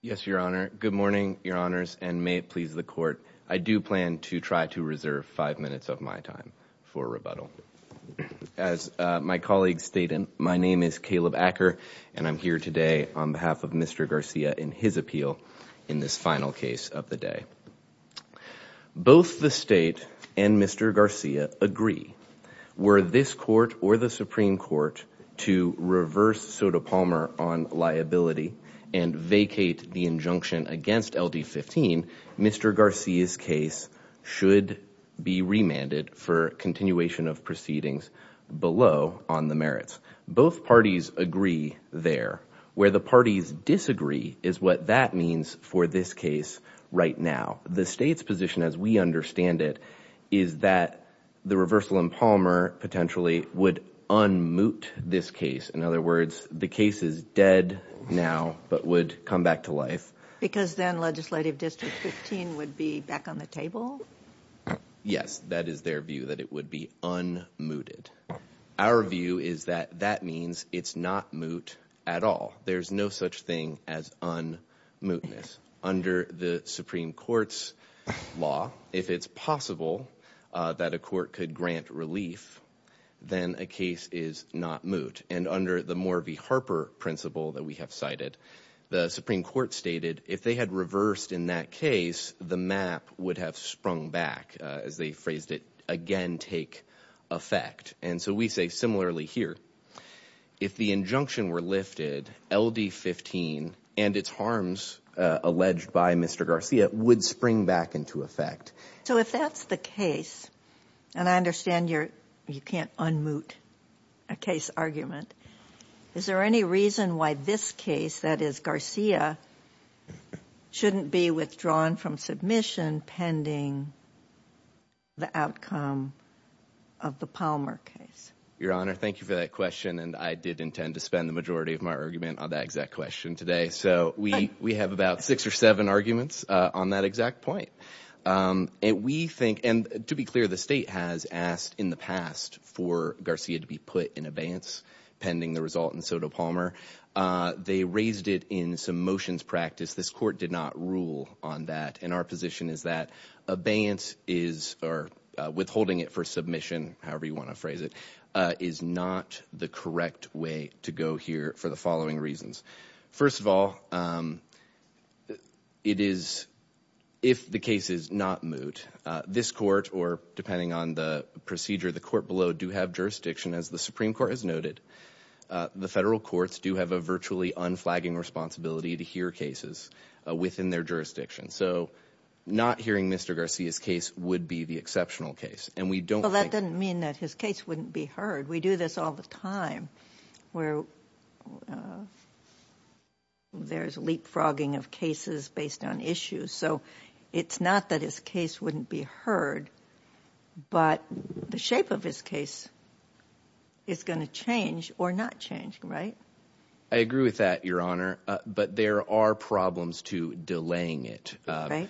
Yes, Your Honor. Good morning, Your Honors, and may it please the Court, I do plan to try to reserve five minutes of my time for rebuttal. As my colleague stated, my name is Caleb Acker, and I'm here today on behalf of Mr. Garcia in his appeal in this final case of the day. Both the State and Mr. Garcia agree, were this Court or the Supreme Court to reverse Sotomayor on liability and vacate the injunction against LD-15, Mr. Garcia's case should be remanded for continuation of proceedings below on the merits. Both parties agree there. Where the parties disagree is what that means for this case right now. The State's position, as we understand it, is that the reversal in Palmer potentially would unmoot this case. In other words, the case is dead now but would come back to life. Because then Legislative District 15 would be back on the table? Yes, that is their view, that it would be unmooted. Our view is that that means it's not moot at all. There's no such thing as unmootness. Under the Supreme Court's law, if it's possible that a court could grant relief, then a case is not moot. And under the Morvey-Harper principle that we have cited, the Supreme Court stated if they had reversed in that case, the map would have sprung back, as they phrased it, again take effect. And so we say similarly here, if the injunction were lifted, LD-15 and its harms alleged by Mr. Garcia would spring back into effect. So if that's the case, and I understand you can't unmoot a case argument, is there any reason why this case, that is Garcia, shouldn't be withdrawn from submission pending the outcome of the Palmer case? Your Honor, thank you for that question, and I did intend to spend the majority of my argument on that exact question today. So we have about six or seven arguments on that exact point. And we think, and to be clear, the state has asked in the past for Garcia to be put in abeyance pending the result in Soto Palmer. They raised it in some motions practice. This court did not rule on that, and our position is that abeyance is, or withholding it for submission, however you want to phrase it, is not the correct way to go here for the following reasons. First of all, it is, if the case is not moot, this court, or depending on the procedure, the court below do have jurisdiction, as the Supreme Court has noted. The federal courts do have a virtually unflagging responsibility to hear cases within their jurisdiction. So not hearing Mr. Garcia's case would be the exceptional case. And we don't... Well, that doesn't mean that his case wouldn't be heard. We do this all the time, where there's leapfrogging of cases based on issues. So it's not that his case wouldn't be heard, but the shape of his case is going to change or not change, right? I agree with that, Your Honor, but there are problems to delaying it. Right.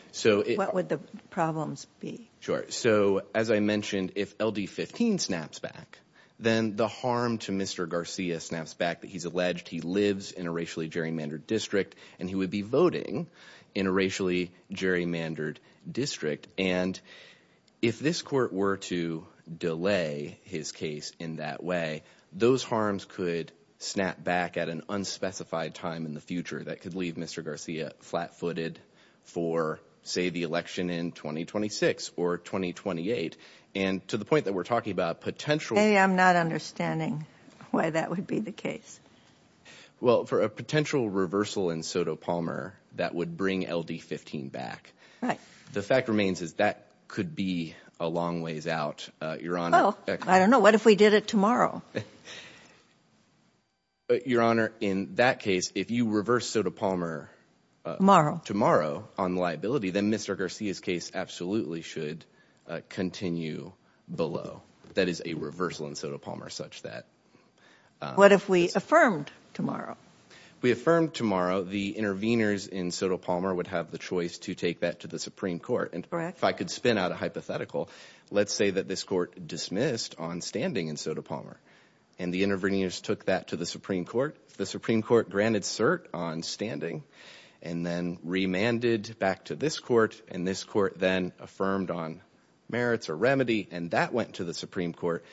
What would the problems be? Sure. So as I mentioned, if LD-15 snaps back, then the harm to Mr. Garcia snaps back that he's alleged he lives in a racially gerrymandered district, and he would be voting in a racially gerrymandered district. And if this court were to delay his case in that way, those harms could snap back at an unspecified time in the future that could leave Mr. Garcia flat-footed for, say, the election in 2026 or 2028. And to the point that we're talking about potential... Maybe I'm not understanding why that would be the case. Well, for a potential reversal in Soto Palmer, that would bring LD-15 back. Right. The fact remains is that could be a long ways out, Your Honor. I don't know. What if we did it tomorrow? Your Honor, if we did Soto Palmer tomorrow on liability, then Mr. Garcia's case absolutely should continue below. That is a reversal in Soto Palmer such that... What if we affirmed tomorrow? We affirmed tomorrow the intervenors in Soto Palmer would have the choice to take that to the Supreme Court. And if I could spin out a hypothetical, let's say that this court dismissed on standing in Soto Palmer, and the intervenors took that to the Supreme Court. The Supreme Court granted cert on standing, and then remanded back to this court, and this court then affirmed on merits or remedy, and that went to the Supreme Court.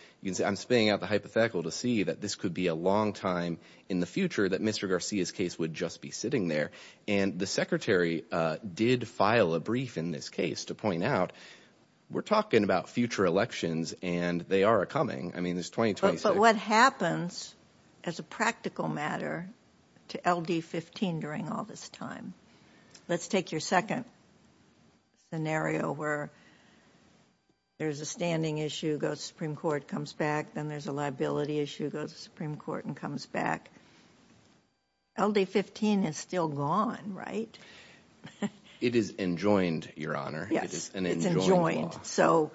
I'm spinning out the hypothetical to see that this could be a long time in the future that Mr. Garcia's case would just be sitting there. And the Secretary did file a brief in this case to point out we're talking about future elections, and they are a But what happens as a practical matter to LD-15 during all this time? Let's take your second scenario where there's a standing issue, Supreme Court comes back, then there's a liability issue, goes to Supreme Court and comes back. LD-15 is still gone, right? It is enjoined, Your Honor. Yes, it's enjoined. So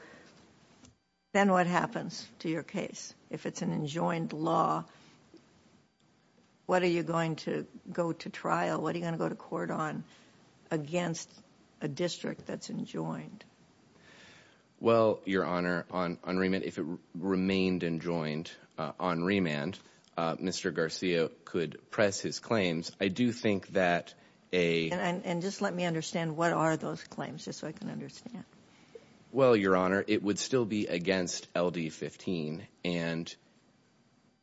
then what happens to your case? If it's an enjoined law, what are you going to go to trial? What are you going to go to court on against a district that's enjoined? Well, Your Honor, on remand, if it remained enjoined on remand, Mr. Garcia could press his I do think that a... And just let me understand, what are those claims, just so I can understand? Well, Your Honor, it would still be against LD-15, and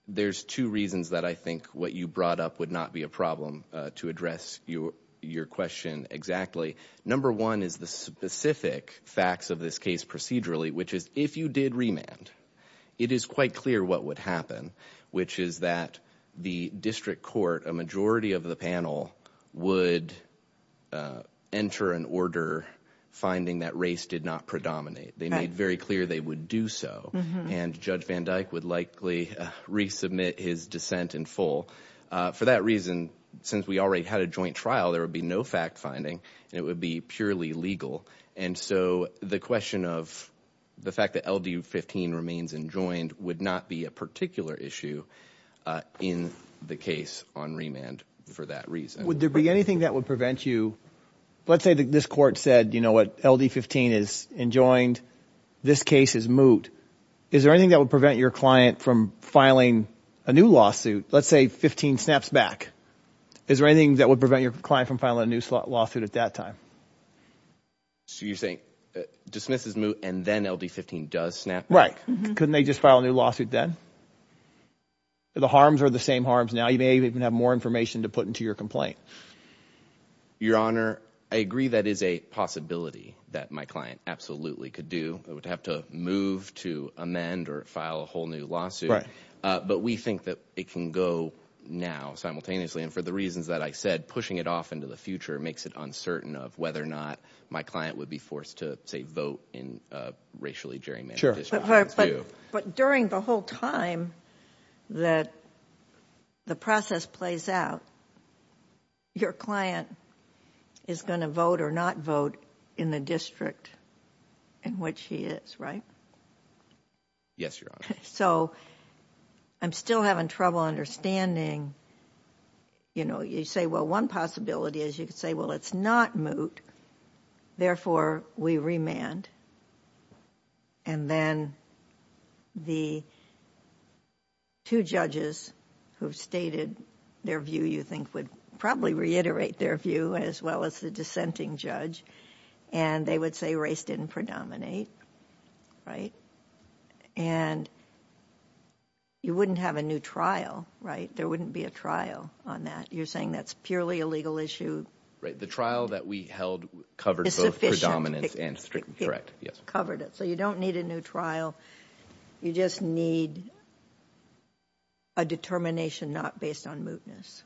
there's two reasons that I think what you brought up would not be a problem to address your question exactly. Number one is the specific facts of this case procedurally, which is if you did remand, it is quite clear what would happen, which is that the district court, a majority of the panel, would enter an order finding that race did not predominate. They made very clear they would do so, and Judge Van Dyke would likely resubmit his dissent in full. For that reason, since we already had a joint trial, there would be no fact-finding, and it would be purely legal. And so the question of the fact that LD-15 remains enjoined would not be a particular issue in the case on remand for that reason. Would there be anything that would prevent you... Let's say that this court said, you know what, LD-15 is enjoined. This case is moot. Is there anything that would prevent your client from filing a new lawsuit? Let's say 15 snaps back. Is there anything that would prevent your client from filing a new lawsuit at that time? So you're saying dismisses moot and then LD-15 does snap back? Right. Couldn't they just file a new lawsuit then? The harms are the same harms now. You may even have more information to put into your complaint. Your Honor, I agree that is a possibility that my client absolutely could do. I would have to move to amend or file a whole new lawsuit, but we think that it can go now simultaneously, and for the reasons that I said, pushing it off into the future makes it uncertain of whether or not my client would be forced to, say, vote in a racially gerrymandered district. But during the whole time that the process plays out, your client is going to vote or not vote in the district in which he is, right? Yes, Your Honor. So I'm still having trouble understanding, you know, you say, well, one possibility is you could say, well, it's not moot, therefore we remand. And then the two judges who've stated their view, you think, would probably reiterate their view as well as the dissenting judge, and they would say race didn't predominate, right? And you wouldn't have a new trial, right? There wouldn't be a trial on that. You're saying that's purely a legal issue? Right. The trial that we held covered both predominance and district, correct? Yes. Covered it. So you don't need a new trial. You just need a determination not based on mootness.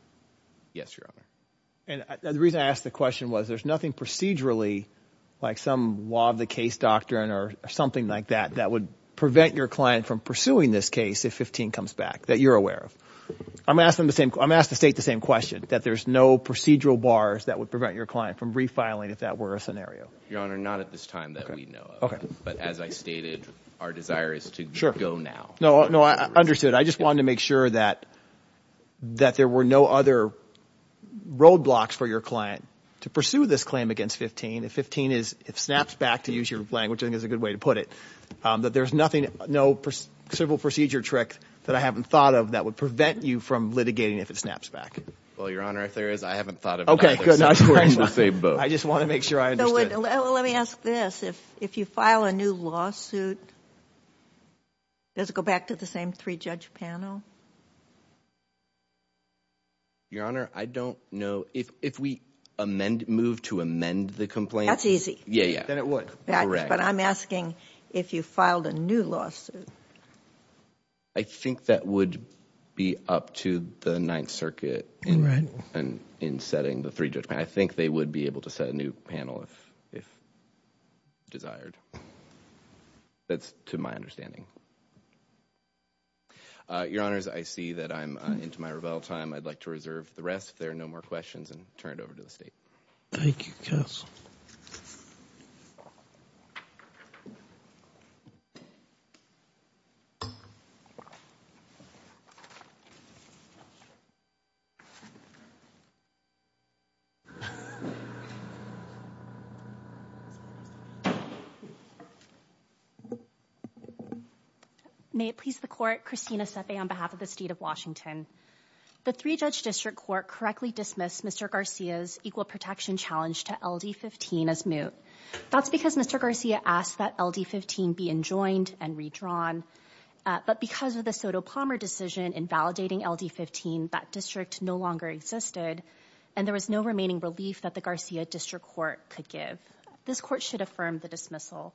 Yes, Your Honor. And the reason I asked the question was there's nothing procedurally, like some law of the case doctrine or something like that, that would prevent your client from pursuing this case if 15 comes back, that you're aware of. I'm asking the same, I'm asked to state the same question, that there's no procedural bars that would prevent your client from refiling, if that were a scenario. Your Honor, not at this time that we know of. Okay. But as I stated, our desire is to go now. No, no, I understood. I just wanted to make sure that that there were no other roadblocks for your client to pursue this claim against 15. If 15 snaps back, to use your language, I think is a good way to put it, that there's nothing, no simple procedure trick that I haven't thought of that would prevent you from litigating if it snaps back. Well, Your Honor, if there is, I haven't thought of it. Okay, good. I just want to make sure I understood. Let me ask this. If you file a new lawsuit, does it go back to the three judge panel? Your Honor, I don't know. If we move to amend the complaint. That's easy. Yeah, yeah. Then it would. Correct. But I'm asking if you filed a new lawsuit. I think that would be up to the Ninth Circuit in setting the three judge panel. I think they would be able to set a new panel if desired. That's to my understanding. Your Honors, I see that I'm into my rebuttal time. I'd like to reserve the rest. If there are no more questions and turn it over to the state. Thank you, counsel. May it please the court, Christina Sepe on behalf of the state of Washington. The three judge district court correctly dismissed Mr. Garcia's equal protection challenge to LD-15 as moot. That's because Mr. Garcia asked that LD-15 be enjoined and redrawn. But because of the Soto Palmer decision invalidating LD-15, that district no longer existed and there was no remaining relief that the Garcia district court could give. This court should affirm the dismissal.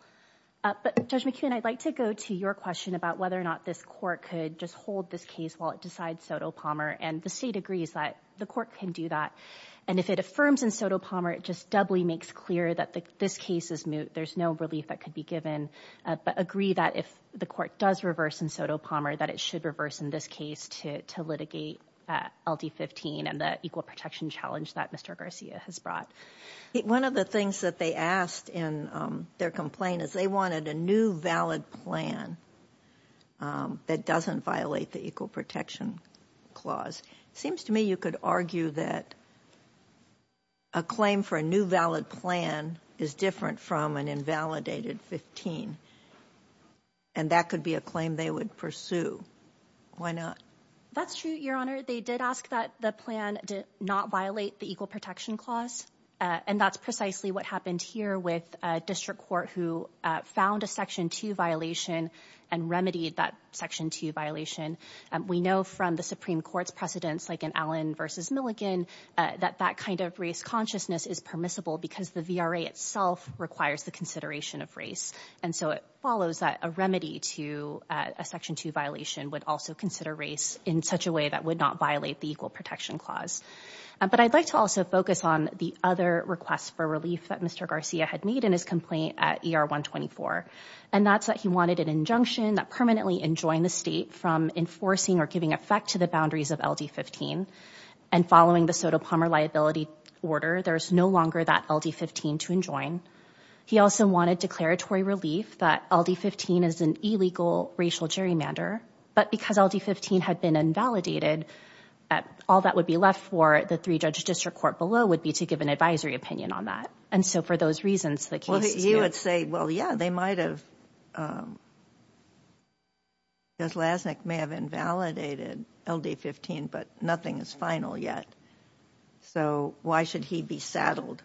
But Judge McKeon, I'd like to go to your question about whether or not this court could just hold this case while it decides Soto Palmer and the state agrees that the court can do that. And if it affirms in Soto Palmer, it just doubly makes clear that this case is moot. There's no relief that could be given, but agree that if the court does reverse in Soto Palmer, that it should reverse in this case to litigate LD-15 and the equal protection challenge that Mr. Garcia has brought. One of the things that they asked in their complaint is they wanted a new valid plan that doesn't violate the equal protection clause. Seems to me you could argue that a claim for a new valid plan is different from an invalidated 15, and that could be a claim they would pursue. Why not? That's true, Your Honor. They did ask that the plan did not violate the equal protection clause, and that's precisely what happened here with a district court who found a Section 2 violation and remedied that Section 2 violation. We know from the Supreme Court's precedents, like in Allen versus Milligan, that that kind of race consciousness is permissible because the VRA itself requires the consideration of race. And so it follows that a remedy to a Section 2 violation would also consider race in such a way that would not violate the equal protection clause. But I'd like to also focus on the other request for relief that Mr. Garcia had made in his complaint at ER-124, and that's that he wanted an injunction that permanently enjoined the state from enforcing or giving effect to the boundaries of LD-15. And following the Soto Palmer liability order, there's no longer that LD-15 to enjoin. He also wanted declaratory relief that LD-15 is an illegal racial gerrymander, but because LD-15 had been invalidated, all that would be left for the three judge district court below would be to give an advisory opinion on that. And so for those reasons, you would say, well, yeah, they might have, because Lasnik may have invalidated LD-15, but nothing is final yet. So why should he be saddled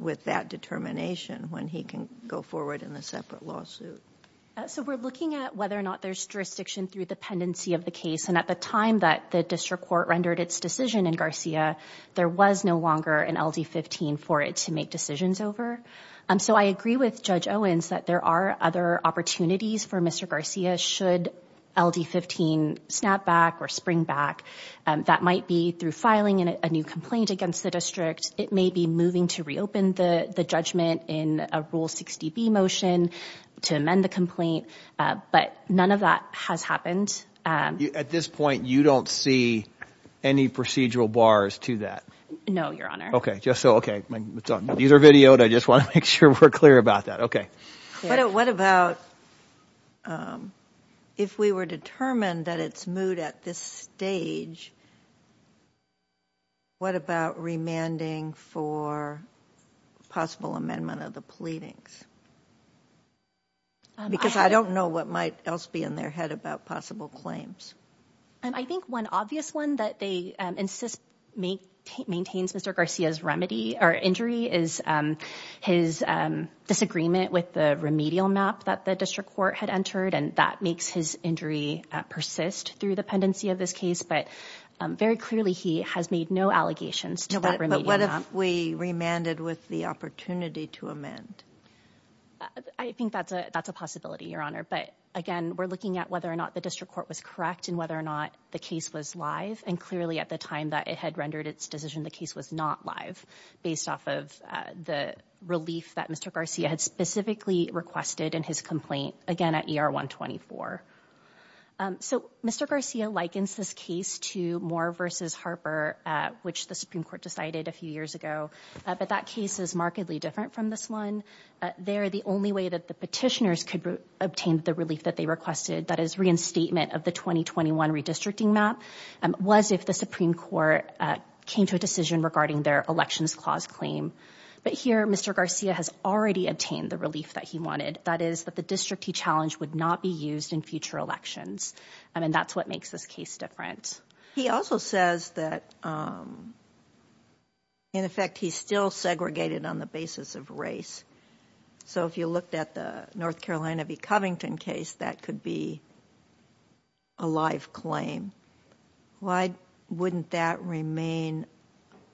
with that determination when he can go forward in a separate lawsuit? So we're looking at whether or not there's jurisdiction through the pendency of the case. And at the time that the district court rendered its decision in Garcia, there was no longer an LD-15 for it to make decisions over. So I agree with Judge Owens that there are other opportunities for Mr. Garcia should LD-15 snap back or spring back. That might be through filing a new complaint against the district. It may be moving to reopen the judgment in a Rule 60B motion to amend the complaint, but none of that has happened. At this point, you don't see any procedural bars to that? No, Your Honor. Okay. Just so, okay. These are videoed. I just want to make sure we're clear about that. Okay. What about if we were determined that it's moot at this stage, what about remanding for possible amendment of the pleadings? Because I don't know what might else be in their head about possible claims. I think one obvious one that they insist maintains Mr. Garcia's injury is his disagreement with the remedial map that the district court had entered. And that makes his injury persist through the pendency of this case. But very clearly, he has made no allegations to that remedial map. But what if we remanded with the opportunity to amend? I think that's a possibility, Your Honor. But again, we're looking at whether or not the district court was correct and whether or not the case was live. And clearly at the time that it had rendered its decision, the case was not live based off of the relief that Mr. Garcia had specifically requested in his complaint, again, at ER 124. So Mr. Garcia likens this case to Moore versus Harper, which the Supreme Court decided a few years ago. But that case is different from this one. They're the only way that the petitioners could obtain the relief that they requested. That is reinstatement of the 2021 redistricting map was if the Supreme Court came to a decision regarding their elections clause claim. But here, Mr. Garcia has already obtained the relief that he wanted. That is that the district he challenged would not be used in future elections. And that's what makes this case different. He also says that, in effect, he's still segregated on the basis of race. So if you looked at the North Carolina v. Covington case, that could be a live claim. Why wouldn't that remain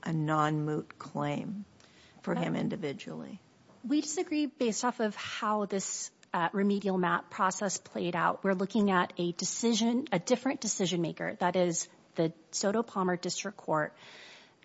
a non-moot claim for him individually? We disagree based off of how this remedial map process played out. We're looking at a decision, a different decision maker. That is the Soto Palmer District Court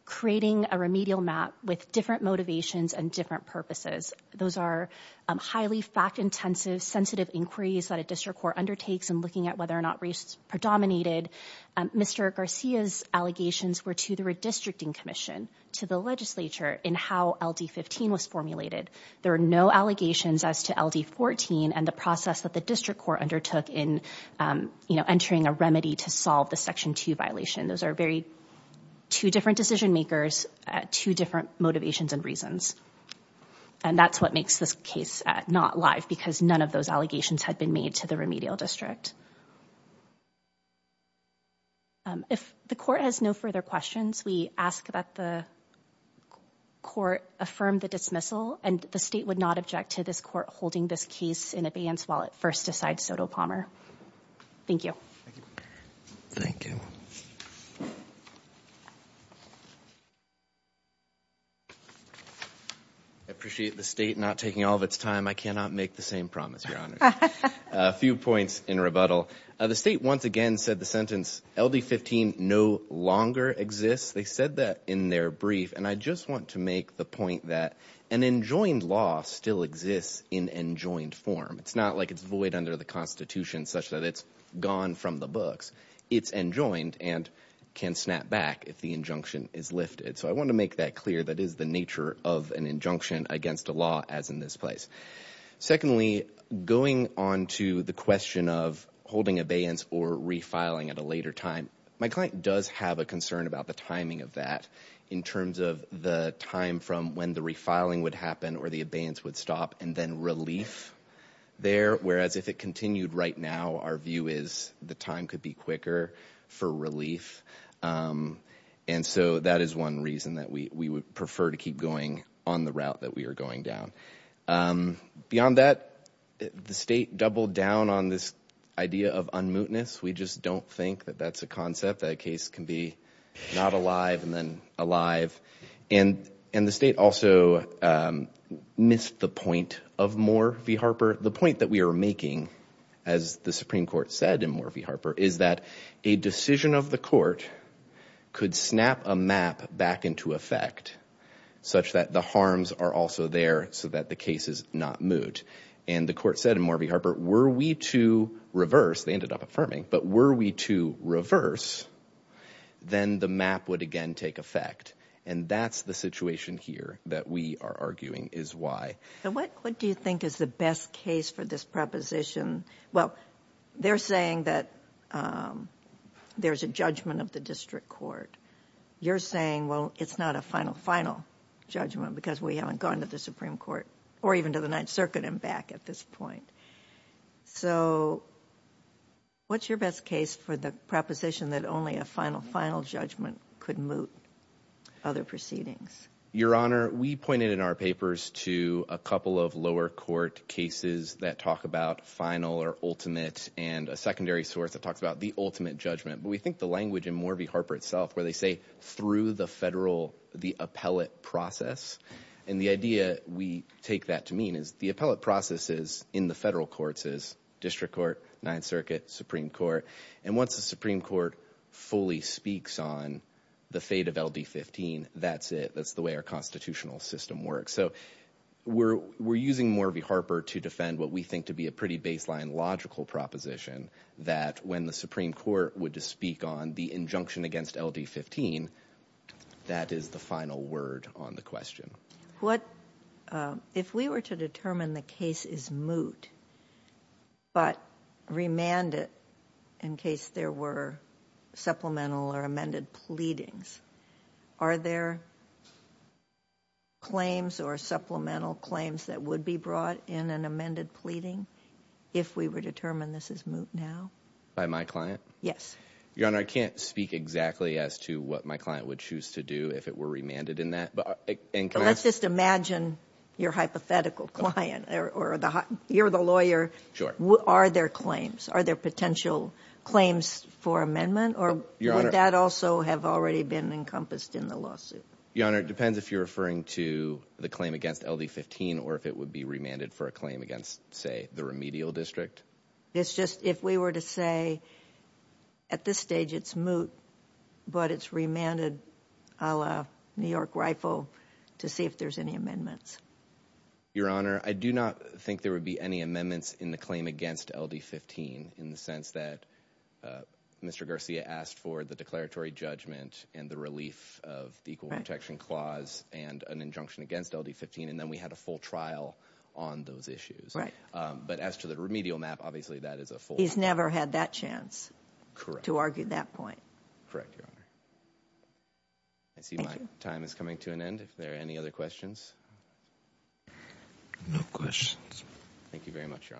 creating a remedial map with different motivations and different purposes. Those are highly fact-intensive, sensitive inquiries that a district court undertakes in looking at whether or not race predominated. Mr. Garcia's allegations were to the redistricting commission, to the legislature, in how LD15 was formulated. There are no allegations as to LD14 and the district court undertook in entering a remedy to solve the Section 2 violation. Those are very two different decision makers, two different motivations and reasons. And that's what makes this case not live because none of those allegations had been made to the remedial district. If the court has no further questions, we ask that the court affirm the the state would not object to this court holding this case in advance while it first decides Soto Palmer. Thank you. Thank you. I appreciate the state not taking all of its time. I cannot make the same promise, Your Honor. A few points in rebuttal. The state once again said the sentence LD15 no longer exists. They said that in their brief. And I just want to make the point that an enjoined law still exists in enjoined form. It's not like it's void under the Constitution such that it's gone from the books. It's enjoined and can snap back if the injunction is lifted. So I want to make that clear. That is the nature of an injunction against a law as in this place. Secondly, going on to the question of holding abeyance or refiling at a later time, my client does have a concern about the timing of that in terms of the time from when the refiling would happen or the abeyance would stop and then relief there. Whereas if it continued right now, our view is the time could be quicker for relief. And so that is one reason that we would prefer to keep going on the route that we are going down. Beyond that, the state doubled down on this idea of unmootness. We just don't think that that's a concept that a case can be not alive and then alive. And and the state also missed the point of Moore v. Harper. The point that we are making, as the Supreme Court said in Moore v. Harper, is that a decision of the court could snap a map back into effect such that the harms are also there so that the case is not moot. And the court said in Moore v. Harper, were we to reverse, they ended up affirming, but were we to reverse, then the map would again take effect. And that's the situation here that we are arguing is why. What do you think is the best case for this proposition? Well, they're saying that there's a judgment of the district court. You're saying, well, it's not a final, final judgment because we haven't gone to the Supreme Court or even to the Ninth Circuit and back at this point. So what's your best case for the proposition that only a final, final judgment could moot other proceedings? Your Honor, we pointed in our papers to a couple of lower court cases that talk about final or ultimate and a secondary source that talks about the ultimate judgment. But we think the language in Moore v. Harper itself, where they say through the federal, the appellate process. And the idea we take that to mean is the appellate processes in the federal courts is district court, Ninth Circuit, Supreme Court. And once the Supreme Court fully speaks on the fate of LD-15, that's it. That's the way our constitutional system works. So we're, we're using Moore v. Harper to defend what we think to be a pretty baseline logical proposition that when the Supreme Court would just speak on the injunction against LD-15, that is the final word on the question. What, if we were to determine the case is moot, but remand it in case there were supplemental or amended pleadings, are there claims or supplemental claims that would be brought in an amended pleading if we were determined this is moot now? By my client? Yes. Your Honor, I can't speak exactly as to what my client would choose to do if it were remanded in that. But let's just imagine your hypothetical client or the, you're the lawyer. Sure. Are there claims? Are there potential claims for amendment? Or would that also have already been encompassed in the lawsuit? Your Honor, it depends if you're referring to the claim against LD-15 or if it would be remanded for a claim against, say, the remedial district. It's just, if we were to say at this stage it's moot, but it's remanded a la New York Rifle to see if there's any amendments. Your Honor, I do not think there would be any amendments in the claim against LD-15 in the sense that Mr. Garcia asked for the declaratory judgment and the relief of the Equal Protection Clause and an injunction against LD-15, and then we had a full trial on those issues. Right. But as to the remedial map, he's never had that chance to argue that point. Correct, Your Honor. I see my time is coming to an end. If there are any other questions? No questions. Thank you very much, Your Honors.